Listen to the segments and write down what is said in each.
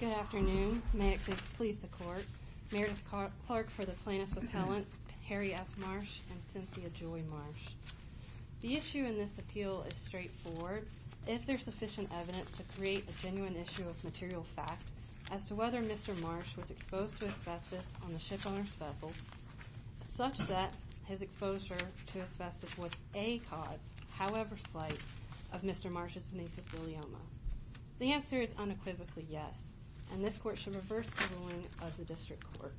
Good afternoon. May it please the court. Meredith Clark for the plaintiff appellant, Harry F. Marsh, and Cynthia Joy Marsh. The issue in this appeal is straightforward. Is there sufficient evidence to create a genuine issue of material fact as to whether Mr. Marsh was exposed to asbestos on the ship-owned vessels such that his exposure to asbestos was a cause, however slight, of Mr. Marsh's mesothelioma? The answer is unequivocally yes, and this court should reverse the ruling of the district court.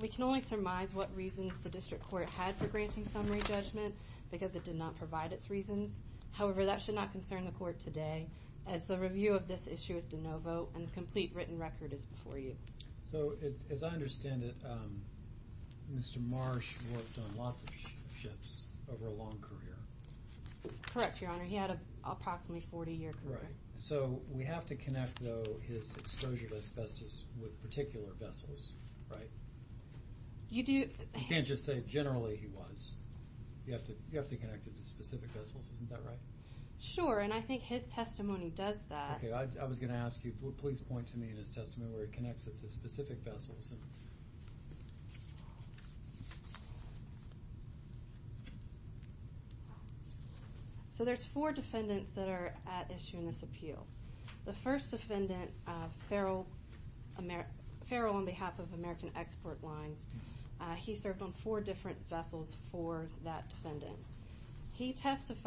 We can only surmise what reasons the district court had for granting summary judgment because it did not provide its reasons. However, that should not concern the court today as the review of this issue is de novo and the complete written record is before you. So as I understand it, Mr. Marsh worked on lots of ships over a long career. Correct, Your Honor. He had an approximately 40-year career. So we have to connect, though, his exposure to asbestos with particular vessels, right? You can't just say generally he was. You have to connect it to specific vessels. Isn't that right? Sure, and I think his testimony does that. Okay, I was going to ask you, please point to me in his testimony where it connects it to specific vessels. So there's four defendants that are at issue in this appeal. The first defendant, Farrell, on behalf of American Export Lines, he served on four different vessels for that defendant. He presented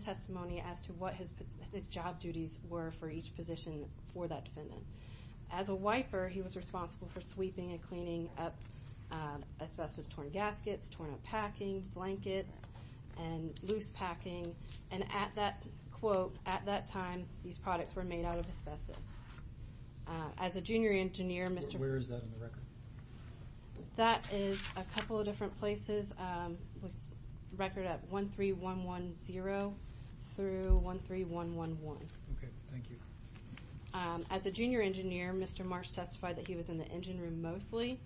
testimony as to what his job duties were for each position for that defendant. As a wiper, he was responsible for sweeping and cleaning up asbestos-torn gaskets, torn-up packing, blankets, and loose packing. And at that quote, at that time, these products were made out of asbestos. As a junior engineer, Mr. Where is that in the record? That is a couple of different places. Record at 13110 through 13111. Okay, thank you. As a junior engineer, Mr. Marsh testified that he was in the engine room mostly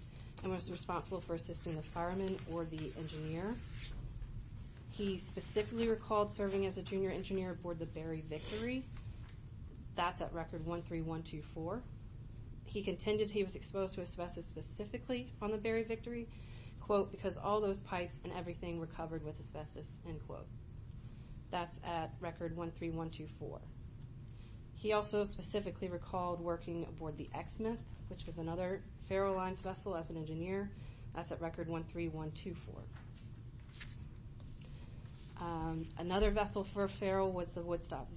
and was responsible for assisting the fireman or the engineer. He specifically recalled serving as a junior engineer aboard the Berry Victory. That's at record 13124. He contended he was exposed to asbestos specifically on the Berry Victory because all those pipes and everything were covered with asbestos. That's at record 13124. He also specifically recalled working aboard the X-Smith, which was another Farrell Lines vessel as an engineer. That's at record 13124. Another vessel for Farrell was the Woodstock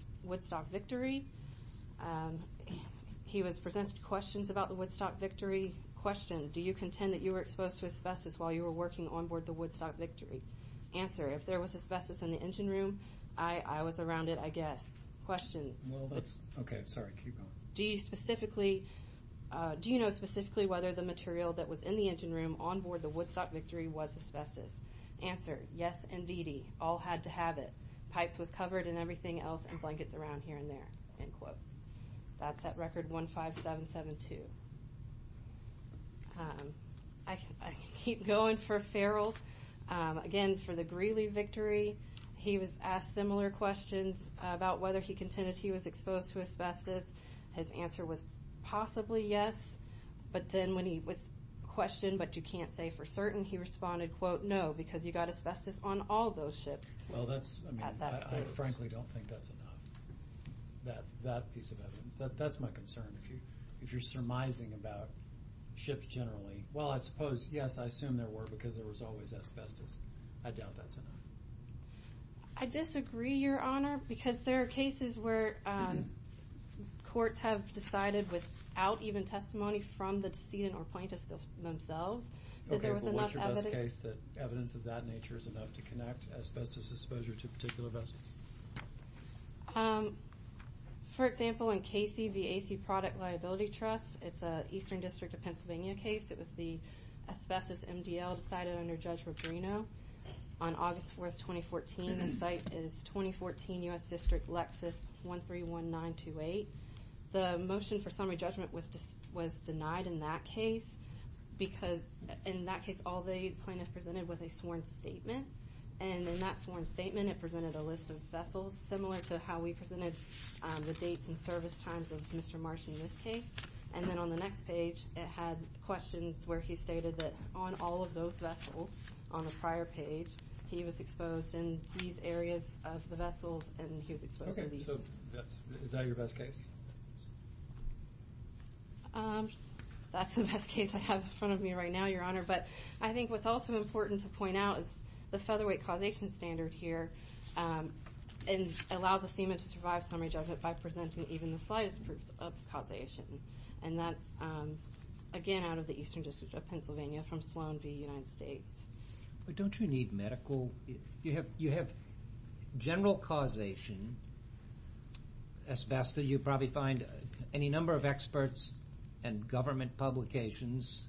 Victory. He presented questions about the Woodstock Victory. Question, do you contend that you were exposed to asbestos while you were working onboard the Woodstock Victory? Answer, if there was asbestos in the engine room, I was around it, I guess. Question. Okay, sorry, keep going. Do you know specifically whether the material that was in the engine room onboard the Woodstock Victory was asbestos? Answer, yes, indeedy. All had to have it. Pipes was covered and everything else in blankets around here and there. That's at record 15772. I can keep going for Farrell. Again, for the Greeley Victory, he was asked similar questions about whether he contended he was exposed to asbestos. His answer was possibly yes. But then when he was questioned, but you can't say for certain, he responded, quote, no, because you got asbestos on all those ships. Well, that's, I mean, I frankly don't think that's enough, that piece of evidence. That's my concern. If you're surmising about ships generally, well, I suppose, yes, I assume there were because there was always asbestos. I doubt that's enough. I disagree, Your Honor, because there are cases where courts have decided without even testimony from the decedent or plaintiff themselves that there was enough evidence. Is there a case that evidence of that nature is enough to connect asbestos exposure to a particular vessel? For example, in Casey v. AC Product Liability Trust, it's an Eastern District of Pennsylvania case. It was the asbestos MDL decided under Judge Regrino on August 4, 2014. The site is 2014 U.S. District Lexus 131928. The motion for summary judgment was denied in that case because in that case all the plaintiff presented was a sworn statement, and in that sworn statement it presented a list of vessels similar to how we presented the dates and service times of Mr. Marsh in this case. And then on the next page it had questions where he stated that on all of those vessels on the prior page, he was exposed in these areas of the vessels and he was exposed in these. Okay, so is that your best case? That's the best case I have in front of me right now, Your Honor, but I think what's also important to point out is the featherweight causation standard here allows a seaman to survive summary judgment by presenting even the slightest proof of causation, and that's, again, out of the Eastern District of Pennsylvania from Sloan v. United States. But don't you need medical? You have general causation asbestos. You probably find any number of experts and government publications,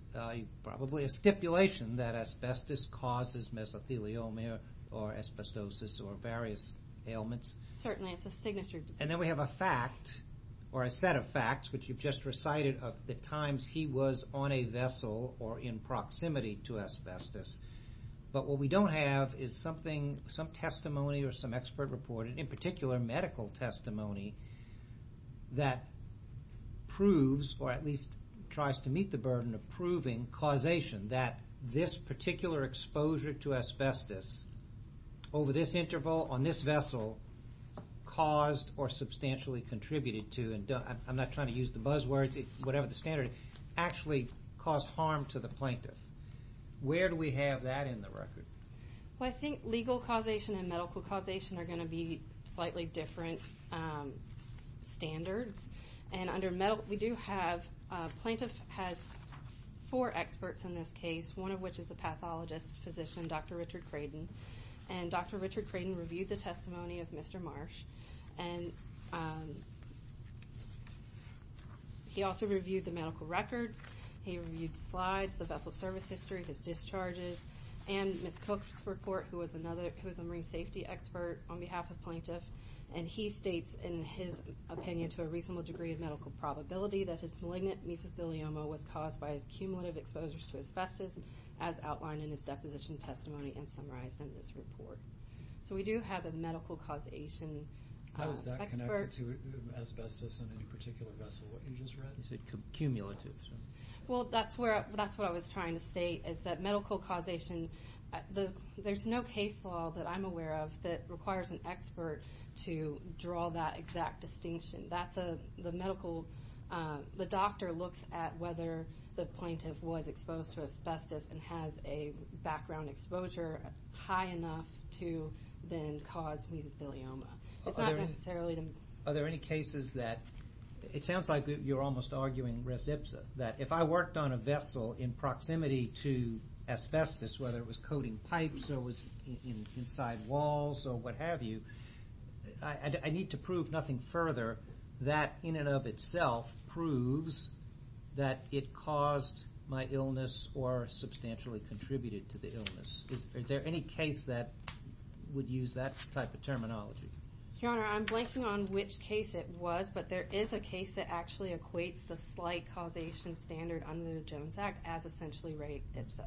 probably a stipulation that asbestos causes mesothelioma or asbestosis or various ailments. Certainly, it's a signature. And then we have a fact or a set of facts, which you've just recited of the times he was on a vessel or in proximity to asbestos. But what we don't have is something, some testimony or some expert report, in particular medical testimony, that proves or at least tries to meet the burden of proving causation, that this particular exposure to asbestos over this interval on this vessel caused or substantially contributed to and I'm not trying to use the buzzwords, whatever the standard, actually caused harm to the plaintiff. Where do we have that in the record? Well, I think legal causation and medical causation are going to be slightly different standards. And under medical, we do have, plaintiff has four experts in this case, one of which is a pathologist physician, Dr. Richard Craydon. And Dr. Richard Craydon reviewed the testimony of Mr. Marsh. And he also reviewed the medical records. He reviewed slides, the vessel service history, his discharges. And Ms. Cook's report, who is a marine safety expert on behalf of plaintiff. And he states in his opinion to a reasonable degree of medical probability that his malignant mesothelioma was caused by his cumulative exposures to asbestos, as outlined in his deposition testimony and summarized in this report. So we do have a medical causation expert. How is that connected to asbestos in any particular vessel, what you just read? You said cumulative. Well, that's what I was trying to say is that medical causation, there's no case law that I'm aware of that requires an expert to draw that exact distinction. The doctor looks at whether the plaintiff was exposed to asbestos and has a background exposure high enough to then cause mesothelioma. Are there any cases that, it sounds like you're almost arguing res ipsa, that if I worked on a vessel in proximity to asbestos, whether it was coating pipes or was inside walls or what have you, I need to prove nothing further that in and of itself proves that it caused my illness or substantially contributed to the illness. Is there any case that would use that type of terminology? Your Honor, I'm blanking on which case it was, but there is a case that actually equates the slight causation standard under the Jones Act as essentially res ipsa.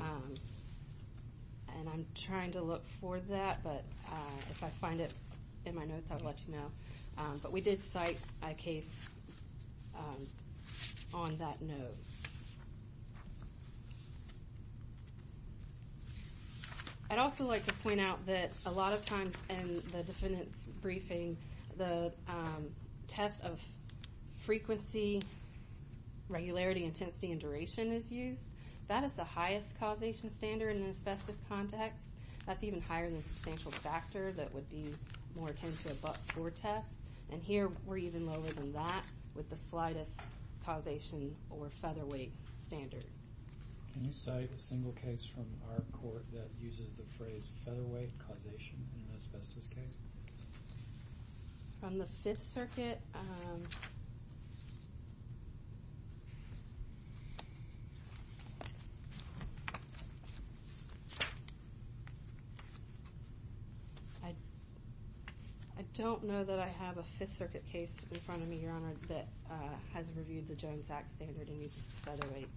And I'm trying to look for that, but if I find it in my notes, I'll let you know. But we did cite a case on that note. I'd also like to point out that a lot of times in the defendant's briefing, the test of frequency, regularity, intensity, and duration is used. That is the highest causation standard in an asbestos context. That's even higher than substantial factor that would be more akin to a but-for test. And here we're even lower than that with the slightest causation or featherweight standard. Can you cite a single case from our court that uses the phrase featherweight causation in an asbestos case? From the Fifth Circuit? I don't know that I have a Fifth Circuit case in front of me, Your Honor, that has reviewed the Jones Act standard and uses featherweight.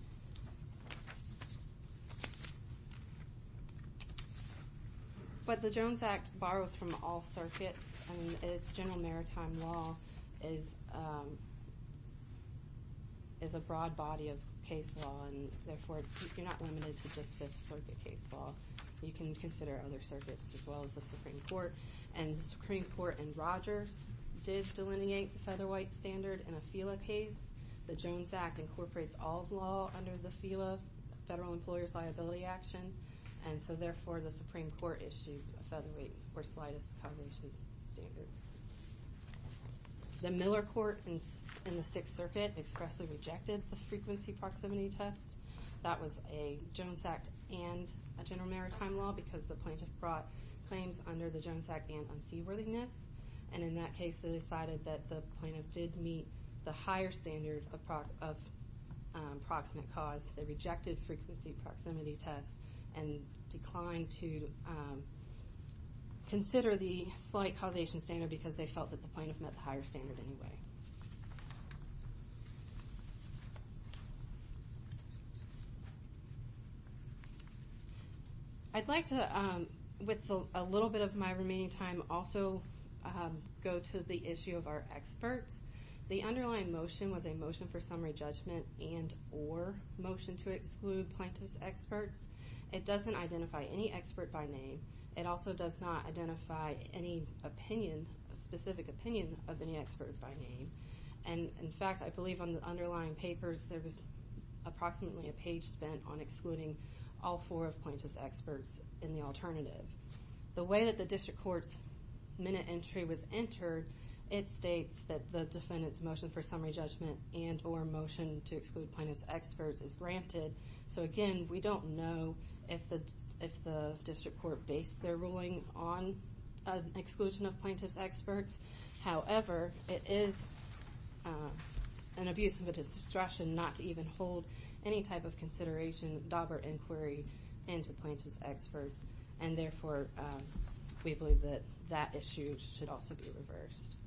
But the Jones Act borrows from all circuits, and General Maritime Law is a broad body of case law, and therefore you're not limited to just Fifth Circuit case law. You can consider other circuits as well as the Supreme Court. And the Supreme Court in Rogers did delineate the featherweight standard in a FILA case. The Jones Act incorporates all law under the FILA, Federal Employer's Liability Action, and so therefore the Supreme Court issued a featherweight or slightest causation standard. The Miller Court in the Sixth Circuit expressly rejected the frequency proximity test. That was a Jones Act and a General Maritime Law because the plaintiff brought claims under the Jones Act and unseaworthiness, and in that case they decided that the plaintiff did meet the higher standard of proximate cause. They rejected frequency proximity test and declined to consider the slight causation standard because they felt that the plaintiff met the higher standard anyway. I'd like to, with a little bit of my remaining time, also go to the issue of our experts. The underlying motion was a motion for summary judgment and or motion to exclude plaintiff's experts. It doesn't identify any expert by name. It also does not identify any opinion, a specific opinion of any expert by name. In fact, I believe on the underlying papers there was approximately a page spent on excluding all four of plaintiff's experts in the alternative. The way that the district court's minute entry was entered, it states that the defendant's motion for summary judgment and or motion to exclude plaintiff's experts is granted. Again, we don't know if the district court based their ruling on exclusion of plaintiff's experts. However, it is an abuse of a distraction not to even hold any type of consideration, doubt, or inquiry into plaintiff's experts, and therefore we believe that that issue should also be reversed.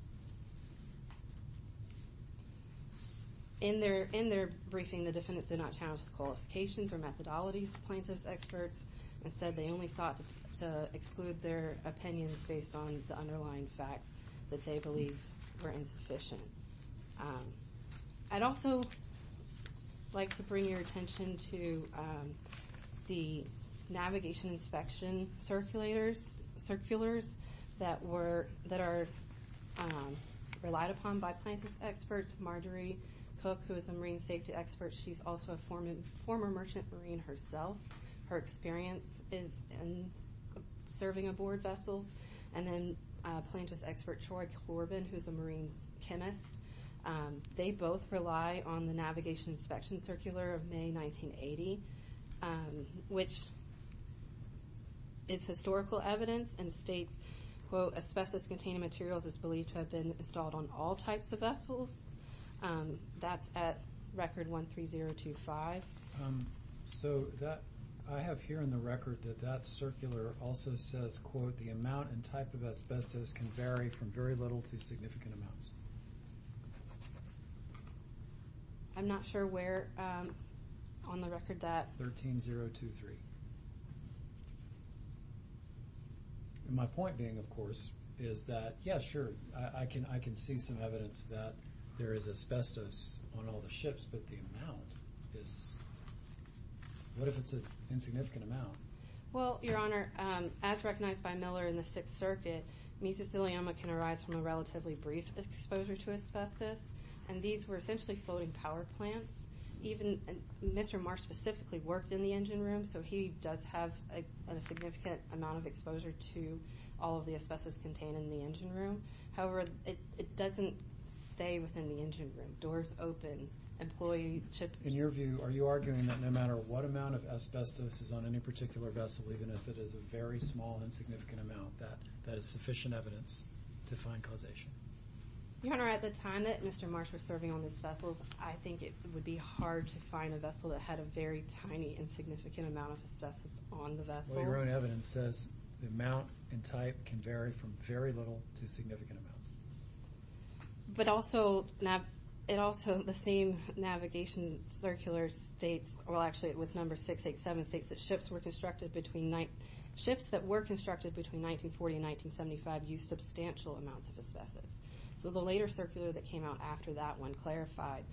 In their briefing, the defendants did not challenge the qualifications or methodologies of plaintiff's experts. Instead, they only sought to exclude their opinions based on the underlying facts that they believe were insufficient. I'd also like to bring your attention to the navigation inspection circulars that are relied upon by plaintiff's experts. Marjorie Cook, who is a marine safety expert, she's also a former merchant marine herself. Her experience is in serving aboard vessels. And then plaintiff's expert Troy Corbin, who's a marine chemist. They both rely on the navigation inspection circular of May 1980, which is historical evidence and states, quote, asbestos-containing materials is believed to have been installed on all types of vessels. That's at record 13025. So I have here in the record that that circular also says, quote, the amount and type of asbestos can vary from very little to significant amounts. I'm not sure where on the record that... 13023. And my point being, of course, is that, yeah, sure, I can see some evidence that there is asbestos on all the ships, but the amount is... What if it's an insignificant amount? Well, Your Honor, as recognized by Miller in the Sixth Circuit, mesothelioma can arise from a relatively brief exposure to asbestos, and these were essentially floating power plants. Even Mr. Marsh specifically worked in the engine room, so he does have a significant amount of exposure to all of the asbestos contained in the engine room. However, it doesn't stay within the engine room. In your view, are you arguing that no matter what amount of asbestos is on any particular vessel, even if it is a very small, insignificant amount, that is sufficient evidence to find causation? Your Honor, at the time that Mr. Marsh was serving on these vessels, I think it would be hard to find a vessel that had a very tiny, insignificant amount of asbestos on the vessel. Well, your own evidence says the amount and type can vary from very little to significant amounts. But also, the same navigation circular states... Well, actually, it was number 687, states that ships were constructed between... Ships that were constructed between 1940 and 1975 used substantial amounts of asbestos. So the later circular that came out after that one clarified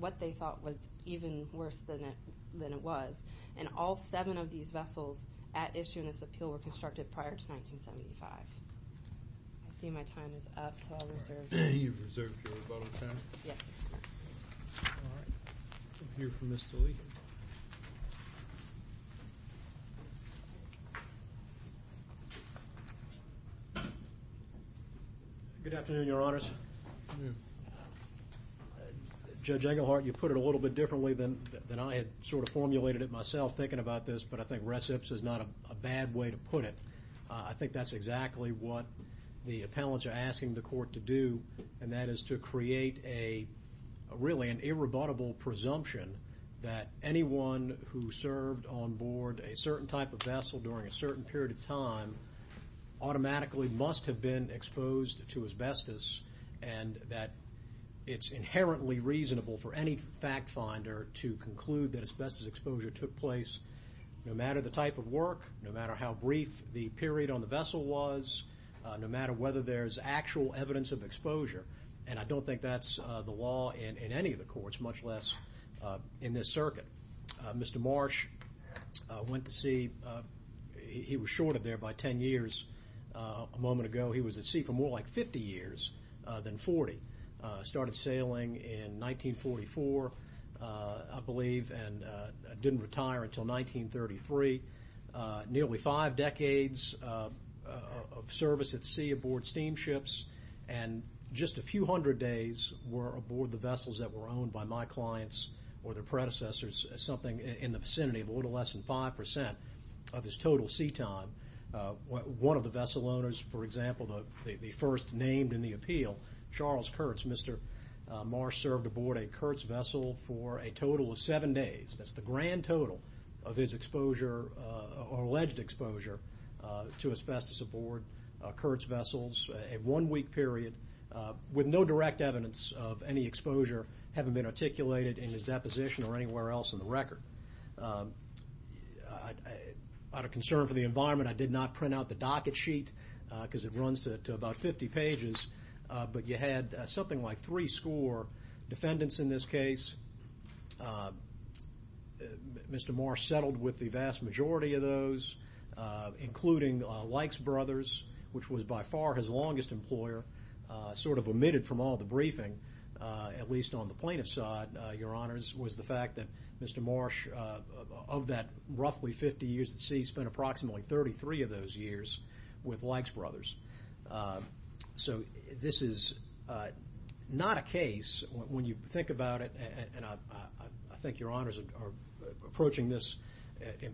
what they thought was even worse than it was, and all seven of these vessels at issue in this appeal were constructed prior to 1975. I see my time is up, so I'll reserve... You've reserved your final time. Yes, sir. All right. We'll hear from Mr. Lee. Good afternoon, Your Honors. Good afternoon. Judge Engelhardt, you put it a little bit differently than I had sort of formulated it myself thinking about this, but I think recips is not a bad way to put it. I think that's exactly what the appellants are asking the court to do, and that is to create really an irrebuttable presumption that anyone who served onboard a certain type of vessel during a certain period of time automatically must have been exposed to asbestos, and that it's inherently reasonable for any fact finder to conclude that asbestos exposure took place no matter the type of work, no matter how brief the period on the vessel was, no matter whether there's actual evidence of exposure, and I don't think that's the law in any of the courts, much less in this circuit. Mr. Marsh went to sea. He was shorted there by 10 years a moment ago. He was at sea for more like 50 years than 40. Started sailing in 1944, I believe, and didn't retire until 1933. Nearly five decades of service at sea aboard steamships, and just a few hundred days were aboard the vessels that were owned by my clients or their predecessors, something in the vicinity of a little less than 5% of his total sea time. One of the vessel owners, for example, the first named in the appeal, Charles Kurtz, Mr. Marsh served aboard a Kurtz vessel for a total of seven days. That's the grand total of his exposure or alleged exposure to asbestos aboard Kurtz vessels, a one-week period, with no direct evidence of any exposure having been articulated in his deposition or anywhere else in the record. Out of concern for the environment, I did not print out the docket sheet because it runs to about 50 pages, but you had something like three score defendants in this case. Mr. Marsh settled with the vast majority of those, including Likes Brothers, which was by far his longest employer, sort of omitted from all the briefing, at least on the plaintiff's side, Your Honors, was the fact that Mr. Marsh, of that roughly 50 years at sea, spent approximately 33 of those years with Likes Brothers. So this is not a case, when you think about it, and I think Your Honors are approaching this,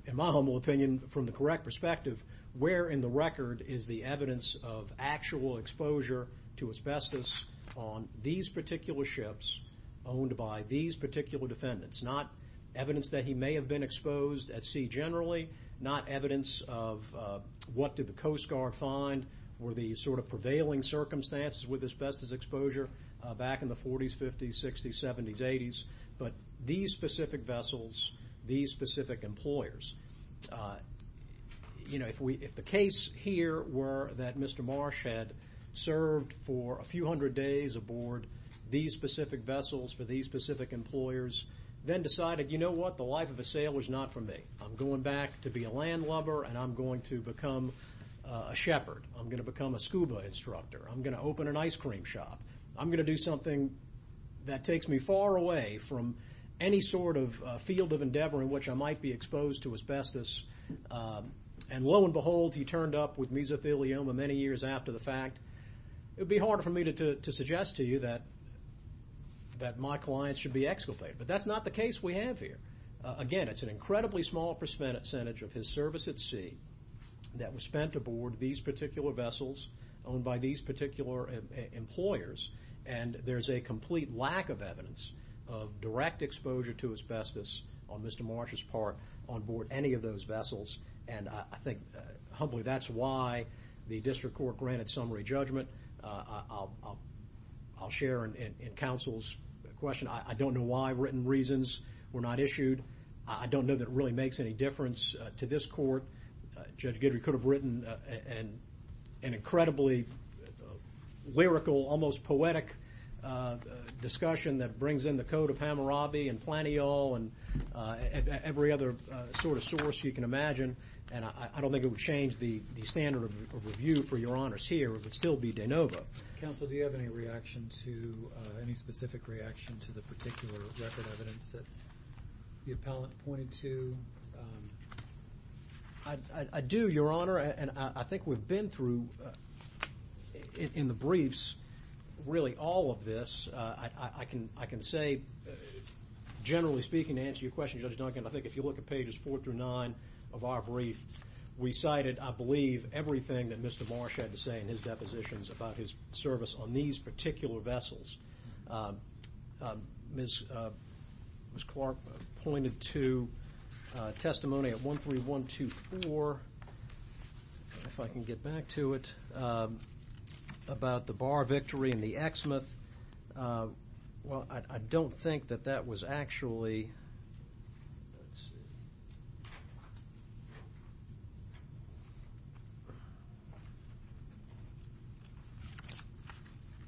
in my humble opinion, from the correct perspective, where in the record is the evidence of actual exposure to asbestos on these particular ships, owned by these particular defendants, not evidence that he may have been exposed at sea generally, not evidence of what did the Coast Guard find, or the sort of prevailing circumstances with asbestos exposure back in the 40s, 50s, 60s, 70s, 80s, but these specific vessels, these specific employers. You know, if the case here were that Mr. Marsh had served for a few hundred days aboard these specific vessels for these specific employers, then decided, you know what, the life of a sailor is not for me. I'm going back to be a landlubber, and I'm going to become a shepherd. I'm going to become a scuba instructor. I'm going to open an ice cream shop. I'm going to do something that takes me far away from any sort of field of endeavor in which I might be exposed to asbestos. And lo and behold, he turned up with mesothelioma many years after the fact. It would be harder for me to suggest to you that my clients should be exculpated, but that's not the case we have here. Again, it's an incredibly small percentage of his service at sea that was spent aboard these particular vessels, owned by these particular employers, and there's a complete lack of evidence of direct exposure to asbestos on Mr. Marsh's part on board any of those vessels. And I think, humbly, that's why the district court granted summary judgment. I'll share in counsel's question, I don't know why written reasons were not issued. I don't know that it really makes any difference to this court. Judge Guidry could have written an incredibly lyrical, almost poetic discussion that brings in the code of Hammurabi and Planteol and every other sort of source you can imagine, and I don't think it would change the standard of review for your honors here. It would still be de novo. Counsel, do you have any specific reaction to the particular record evidence that the appellant pointed to? I do, Your Honor, and I think we've been through, in the briefs, really all of this. I can say, generally speaking, to answer your question, Judge Duncan, I think if you look at pages four through nine of our brief, we cited, I believe, everything that Mr. Marsh had to say in his depositions about his service on these particular vessels. Ms. Clark pointed to testimony at 13124, if I can get back to it, about the bar victory in the Exmouth. Well, I don't think that that was actually.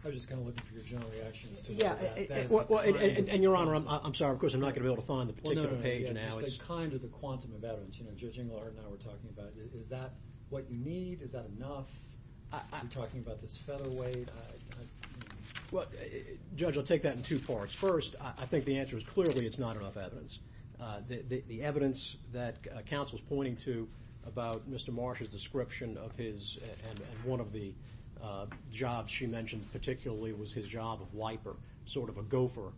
I was just kind of looking for your general reactions to that. And, Your Honor, I'm sorry. Of course, I'm not going to be able to find the particular page now. It's kind of the quantum of evidence. Judge Engelhardt and I were talking about it. Is that what you need? Is that enough? Are you talking about this featherweight? Well, Judge, I'll take that in two parts. First, I think the answer is clearly it's not enough evidence. The evidence that counsel's pointing to about Mr. Marsh's description of his, and one of the jobs she mentioned particularly was his job of wiper, sort of a gopher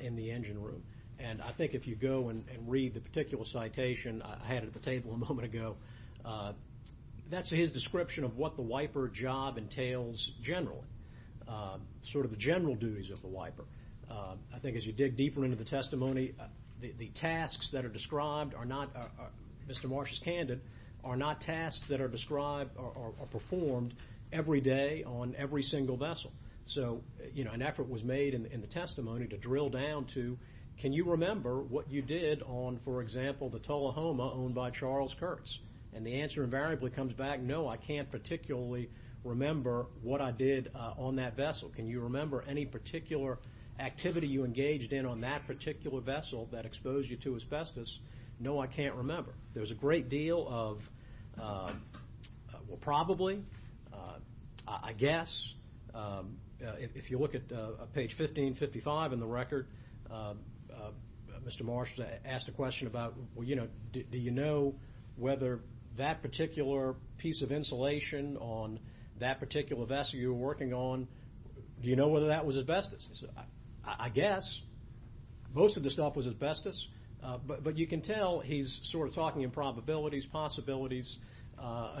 in the engine room. And I think if you go and read the particular citation I had at the table a moment ago, that's his description of what the wiper job entails generally, sort of the general duties of the wiper. I think as you dig deeper into the testimony, the tasks that are described are not, Mr. Marsh is candid, are not tasks that are described or performed every day on every single vessel. So, you know, an effort was made in the testimony to drill down to, can you remember what you did on, for example, the Tullahoma owned by Charles Kurtz? And the answer invariably comes back, no, I can't particularly remember what I did on that vessel. Can you remember any particular activity you engaged in on that particular vessel that exposed you to asbestos? No, I can't remember. There's a great deal of, well, probably, I guess. If you look at page 1555 in the record, Mr. Marsh asked a question about, do you know whether that particular piece of insulation on that particular vessel you were working on, do you know whether that was asbestos? I guess most of the stuff was asbestos, but you can tell he's sort of talking in probabilities, possibilities.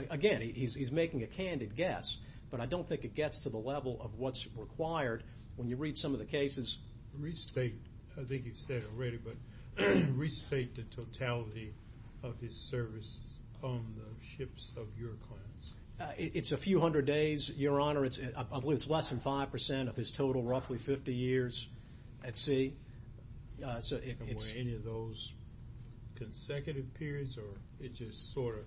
Again, he's making a candid guess, but I don't think it gets to the level of what's required when you read some of the cases. Restate, I think you've said already, but restate the totality of his service on the ships of your clans. It's a few hundred days, Your Honor. I believe it's less than 5% of his total, roughly 50 years at sea. Any of those consecutive periods, or it just sort of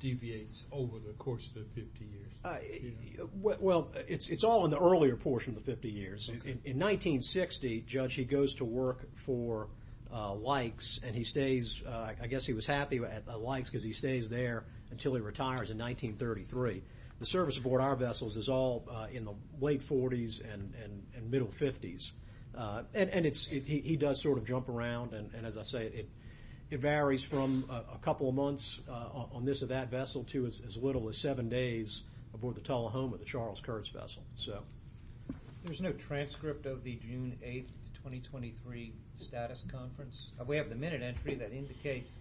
deviates over the course of the 50 years? Well, it's all in the earlier portion of the 50 years. In 1960, Judge, he goes to work for Lykes, and he stays. I guess he was happy at Lykes because he stays there until he retires in 1933. The service aboard our vessels is all in the late 40s and middle 50s. And he does sort of jump around, and as I say, it varies from a couple of months on this or that vessel to as little as seven days aboard the Tullahoma, the Charles Kurtz vessel. There's no transcript of the June 8, 2023, status conference. We have the minute entry that indicates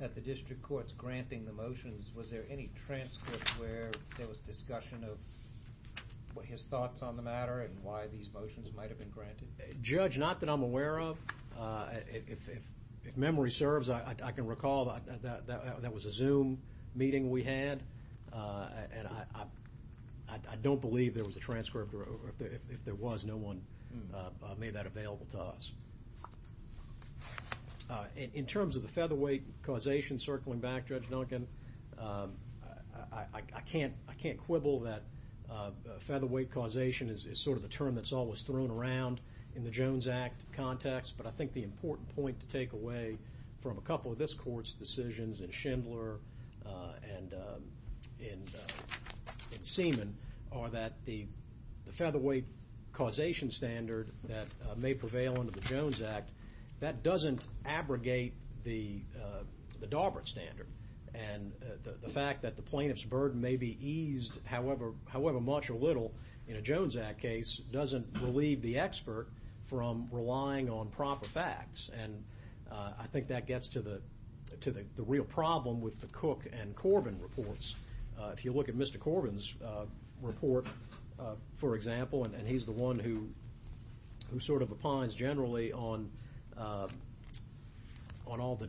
that the district court's granting the motions. Was there any transcript where there was discussion of his thoughts on the matter and why these motions might have been granted? Judge, not that I'm aware of. If memory serves, I can recall that was a Zoom meeting we had, and I don't believe there was a transcript, or if there was, no one made that available to us. In terms of the featherweight causation, circling back, Judge Duncan, I can't quibble that featherweight causation is sort of the term that's always thrown around in the Jones Act context, but I think the important point to take away from a couple of this court's decisions in Schindler and Seaman are that the featherweight causation standard that may prevail under the Jones Act, that doesn't abrogate the Daubert standard, and the fact that the plaintiff's burden may be eased however much or little in a Jones Act case doesn't relieve the expert from relying on proper facts, and I think that gets to the real problem with the Cook and Corbin reports. If you look at Mr. Corbin's report, for example, and he's the one who sort of opines generally on all the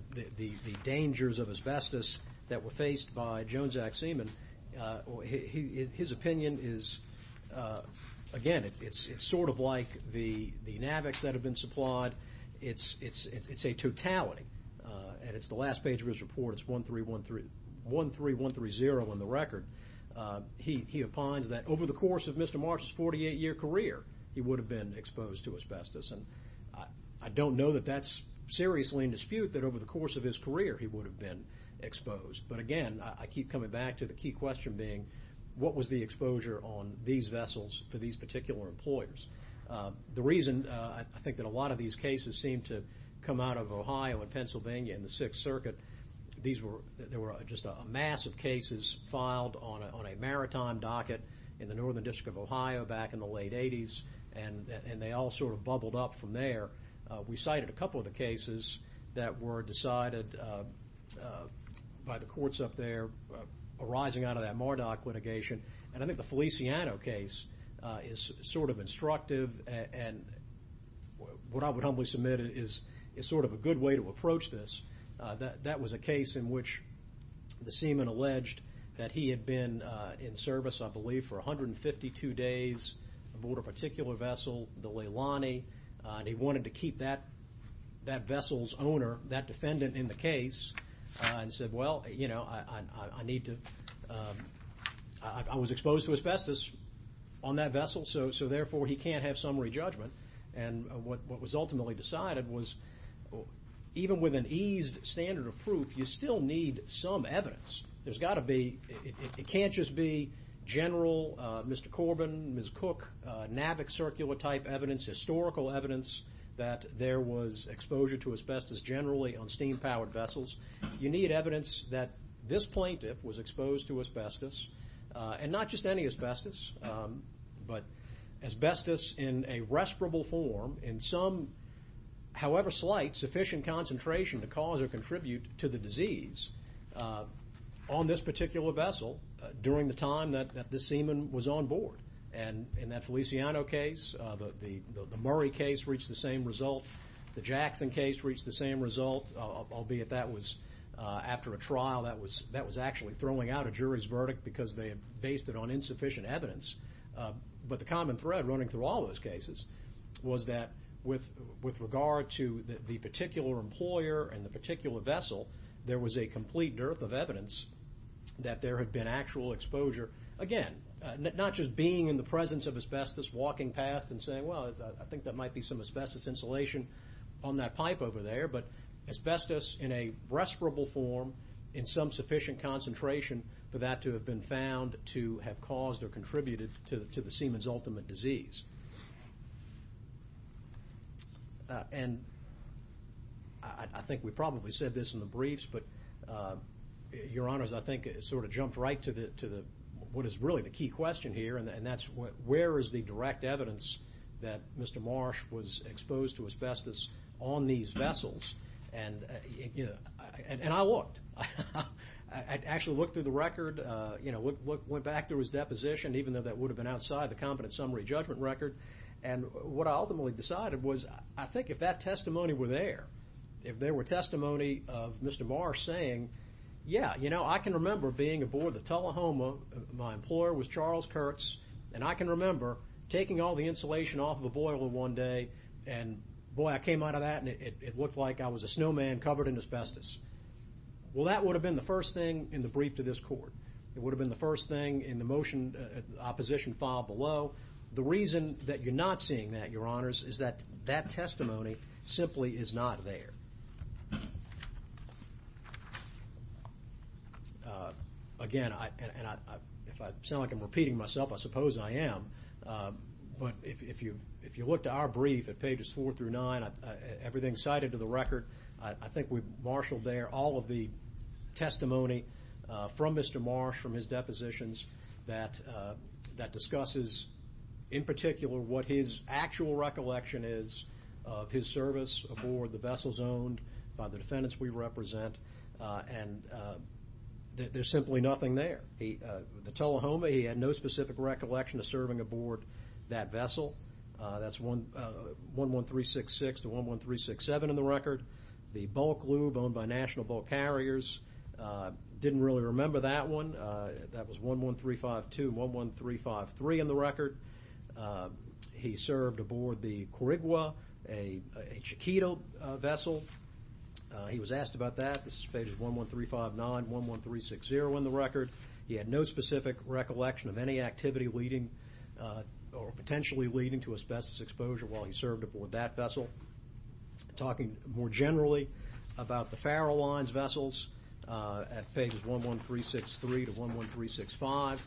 dangers of asbestos that were faced by Jones Act Seaman, his opinion is, again, it's sort of like the NAVICs that have been supplied. It's a totality, and it's the last page of his report. It's 13130 in the record. He opines that over the course of Mr. Marshall's 48-year career, he would have been exposed to asbestos, and I don't know that that's seriously in dispute that over the course of his career he would have been exposed, but, again, I keep coming back to the key question being, what was the exposure on these vessels for these particular employers? The reason I think that a lot of these cases seem to come out of Ohio and Pennsylvania and the Sixth Circuit, these were just a mass of cases filed on a maritime docket in the Northern District of Ohio back in the late 80s, and they all sort of bubbled up from there. We cited a couple of the cases that were decided by the courts up there arising out of that Mardoc litigation, and I think the Feliciano case is sort of instructive, and what I would humbly submit is sort of a good way to approach this. That was a case in which the seaman alleged that he had been in service, I believe, for 152 days aboard a particular vessel, the Leilani, and he wanted to keep that vessel's owner, that defendant in the case, and said, well, you know, I was exposed to asbestos on that vessel, so therefore he can't have summary judgment, and what was ultimately decided was even with an eased standard of proof, you still need some evidence. There's got to be, it can't just be general Mr. Corbin, Ms. Cook, NAVIC circular type evidence, historical evidence that there was exposure to asbestos generally on steam-powered vessels. You need evidence that this plaintiff was exposed to asbestos, and not just any asbestos, but asbestos in a respirable form in some, however slight, sufficient concentration to cause or contribute to the disease on this particular vessel during the time that this seaman was on board, and in that Feliciano case, the Murray case reached the same result. The Jackson case reached the same result, albeit that was after a trial. That was actually throwing out a jury's verdict because they had based it on insufficient evidence, but the common thread running through all those cases was that with regard to the particular employer and the particular vessel, there was a complete dearth of evidence that there had been actual exposure. Again, not just being in the presence of asbestos, walking past and saying, well, I think that might be some asbestos insulation on that pipe over there, but asbestos in a respirable form in some sufficient concentration for that to have been found to have caused or contributed to the seaman's ultimate disease. And I think we probably said this in the briefs, but, Your Honors, I think it sort of jumped right to what is really the key question here, and that's where is the direct evidence that Mr. Marsh was exposed to asbestos on these vessels? And I looked. I actually looked through the record, went back through his deposition, even though that would have been outside the competent summary judgment record, and what I ultimately decided was I think if that testimony were there, if there were testimony of Mr. Marsh saying, yeah, I can remember being aboard the Tullahoma. My employer was Charles Kurtz, and I can remember taking all the insulation off of a boiler one day, and boy, I came out of that and it looked like I was a snowman covered in asbestos. Well, that would have been the first thing in the brief to this court. It would have been the first thing in the motion, opposition file below. The reason that you're not seeing that, Your Honors, is that that testimony simply is not there. Again, and if I sound like I'm repeating myself, I suppose I am, but if you look to our brief at pages four through nine, everything cited to the record, I think we've marshaled there all of the testimony from Mr. Marsh from his depositions that discusses in particular what his actual recollection is of his service aboard the vessel zone owned by the defendants we represent, and there's simply nothing there. The Tullahoma, he had no specific recollection of serving aboard that vessel. That's 11366 to 11367 in the record. The Bulk Lube owned by National Bulk Carriers, didn't really remember that one. That was 11352 and 11353 in the record. He served aboard the Korigua, a Chiquito vessel. He was asked about that. This is pages 11359 and 11360 in the record. He had no specific recollection of any activity leading or potentially leading to asbestos exposure while he served aboard that vessel. Talking more generally about the Farallines vessels at pages 11363 to 11365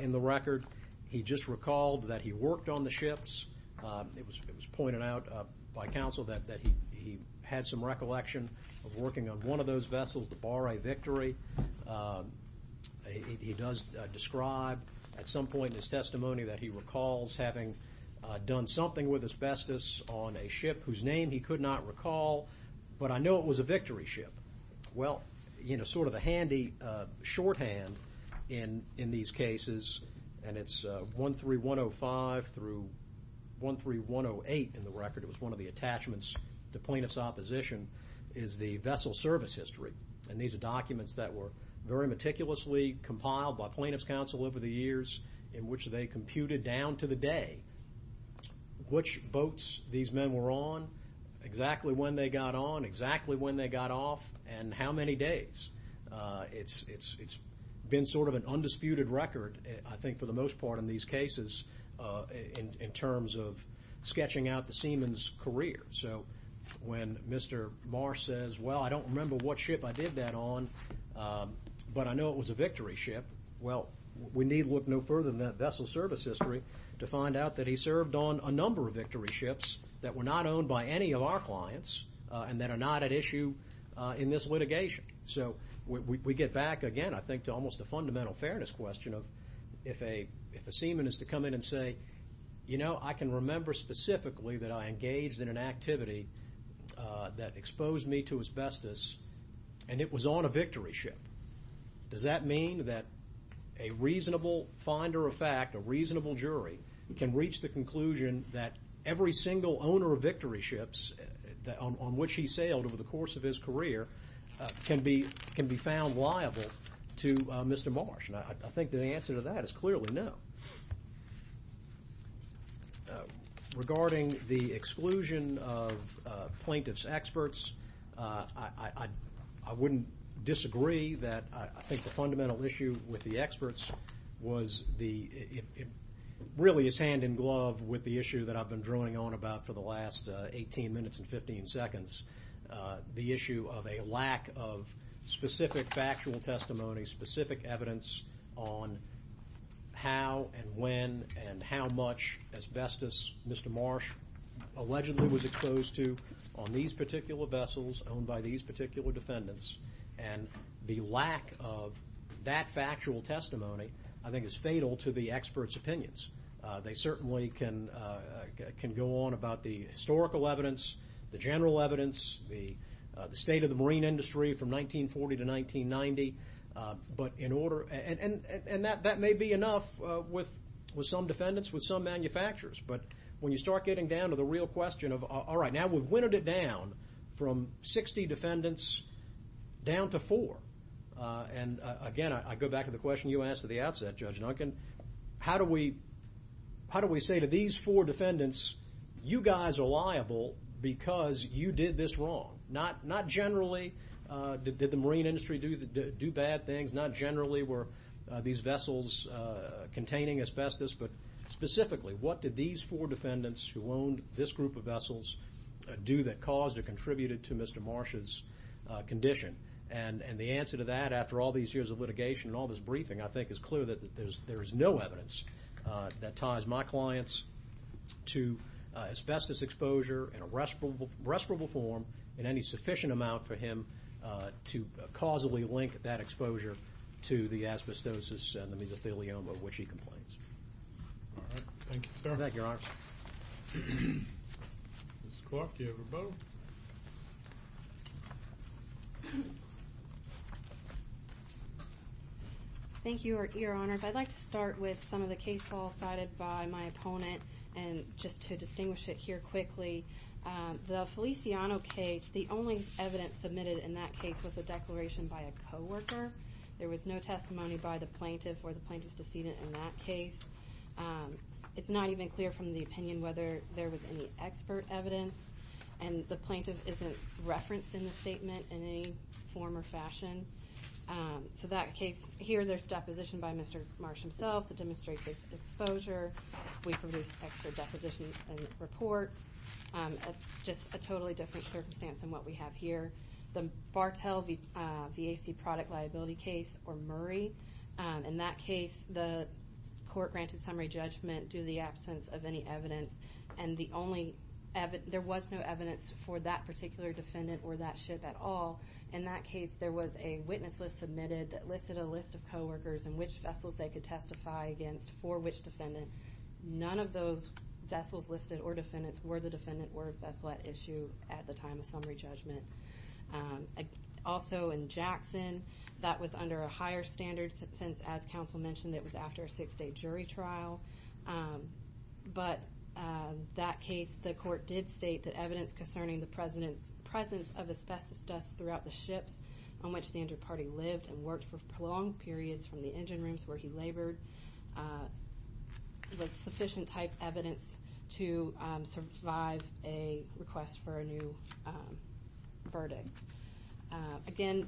in the record, he just recalled that he worked on the ships. It was pointed out by counsel that he had some recollection of working on one of those vessels, the Barre Victory. He does describe at some point in his testimony that he recalls having done something with asbestos on a ship whose name he could not recall, but I know it was a victory ship. Well, sort of a handy shorthand in these cases, and it's 13105 through 13108 in the record. It was one of the attachments to plaintiff's opposition, is the vessel service history. These are documents that were very meticulously compiled by plaintiff's counsel over the years in which they computed down to the day which boats these men were on, exactly when they got on, exactly when they got off, and how many days. It's been sort of an undisputed record, I think for the most part in these cases, in terms of sketching out the seaman's career. So when Mr. Barre says, well, I don't remember what ship I did that on, but I know it was a victory ship, well, we need look no further than that vessel service history to find out that he served on a number of victory ships that were not owned by any of our clients and that are not at issue in this litigation. So we get back again, I think, to almost the fundamental fairness question of if a seaman is to come in and say, you know, I can remember specifically that I engaged in an activity that exposed me to asbestos and it was on a victory ship, does that mean that a reasonable finder of fact, a reasonable jury can reach the conclusion that every single owner of victory ships on which he sailed over the course of his career can be found liable to Mr. Marsh? And I think the answer to that is clearly no. Regarding the exclusion of plaintiff's experts, I wouldn't disagree that I think the fundamental issue with the experts really is hand in glove with the issue that I've been drawing on about for the last 18 minutes and 15 seconds, the issue of a lack of specific factual testimony, specific evidence on how and when and how much asbestos Mr. Marsh allegedly was exposed to on these particular vessels owned by these particular defendants, and the lack of that factual testimony I think is fatal to the experts' opinions. They certainly can go on about the historical evidence, the general evidence, the state of the marine industry from 1940 to 1990, but in order, and that may be enough with some defendants, with some manufacturers, but when you start getting down to the real question of, all right, now we've whittled it down from 60 defendants down to four, and again I go back to the question you asked at the outset, Judge Duncan, how do we say to these four defendants, you guys are liable because you did this wrong, not generally did the marine industry do bad things, not generally were these vessels containing asbestos, but specifically what did these four defendants who owned this group of vessels do that caused or contributed to Mr. Marsh's condition? And the answer to that, after all these years of litigation and all this briefing, I think is clear that there is no evidence that ties my clients to asbestos exposure in a respirable form in any sufficient amount for him to causally link that exposure to the asbestosis and the mesothelioma of which he complains. All right. Thank you, sir. Thank you, Your Honor. Ms. Clark, do you have a vote? Thank you, Your Honors. I'd like to start with some of the cases all cited by my opponent, and just to distinguish it here quickly. The Feliciano case, the only evidence submitted in that case was a declaration by a coworker. There was no testimony by the plaintiff or the plaintiff's decedent in that case. It's not even clear from the opinion whether there was any expert evidence, and the plaintiff isn't referenced in the statement in any form or fashion. So that case, here there's deposition by Mr. Marsh himself that demonstrates his exposure. We produce expert depositions and reports. It's just a totally different circumstance than what we have here. The Bartell VAC product liability case or Murray, in that case the court granted summary judgment due to the absence of any evidence, and there was no evidence for that particular defendant or that ship at all. In that case, there was a witness list submitted that listed a list of coworkers and which vessels they could testify against for which defendant. None of those vessels listed or defendants were the defendant or vessel at issue at the time of summary judgment. Also in Jackson, that was under a higher standard since, as counsel mentioned, it was after a six-day jury trial. But that case, the court did state that evidence concerning the presence of asbestos dust throughout the ships on which the inter-party lived and worked for prolonged periods from the engine rooms where he labored was sufficient type evidence to survive a request for a new verdict. Again,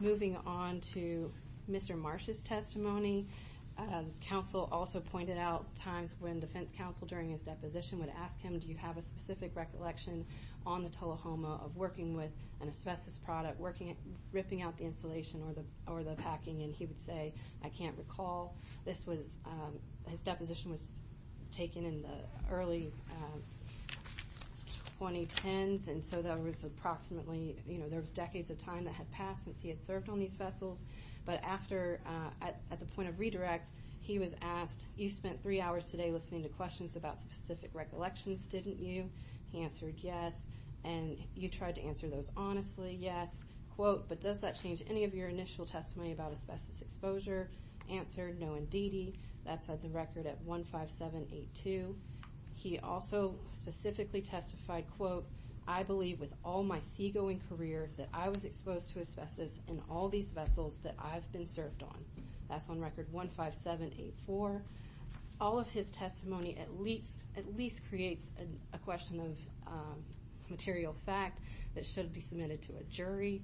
moving on to Mr. Marsh's testimony. Counsel also pointed out times when defense counsel during his deposition would ask him, do you have a specific recollection on the Tullahoma of working with an asbestos product, ripping out the insulation or the packing, and he would say, I can't recall. His deposition was taken in the early 2010s, and so there was decades of time that had passed since he had served on these vessels. But at the point of redirect, he was asked, you spent three hours today listening to questions about specific recollections, didn't you? He answered, yes. And you tried to answer those honestly? Yes. Quote, but does that change any of your initial testimony about asbestos exposure? Answered, no indeedy. That's at the record at 15782. He also specifically testified, quote, I believe with all my seagoing career that I was exposed to asbestos in all these vessels that I've been served on. That's on record 15784. All of his testimony at least creates a question of material fact that should be submitted to a jury.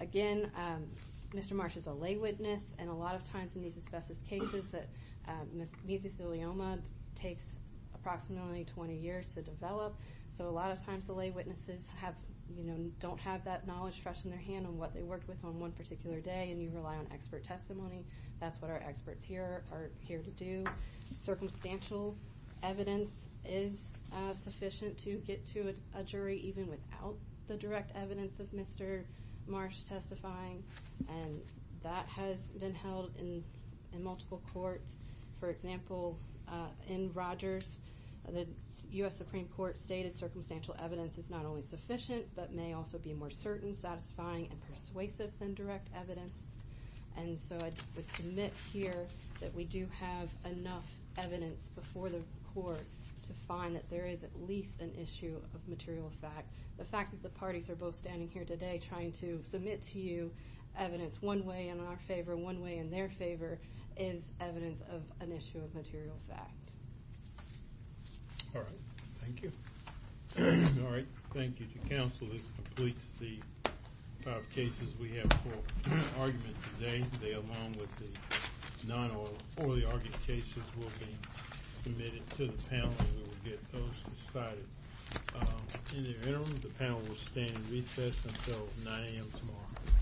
Again, Mr. Marsh is a lay witness, and a lot of times in these asbestos cases, mesothelioma takes approximately 20 years to develop, so a lot of times the lay witnesses don't have that knowledge fresh in their hand on what they worked with on one particular day, and you rely on expert testimony. That's what our experts here are here to do. Circumstantial evidence is sufficient to get to a jury even without the direct evidence of Mr. Marsh testifying, and that has been held in multiple courts. For example, in Rogers, the U.S. Supreme Court stated circumstantial evidence is not only sufficient but may also be more certain, satisfying, and persuasive than direct evidence, and so I would submit here that we do have enough evidence before the court to find that there is at least an issue of material fact. The fact that the parties are both standing here today trying to submit to you evidence one way in our favor, one way in their favor, is evidence of an issue of material fact. All right. Thank you. All right. Thank you to counsel. This completes the five cases we have for argument today. They, along with the non-orally argued cases, will be submitted to the panel, and we will get those decided in the interim. The panel will stand in recess until 9 a.m. tomorrow.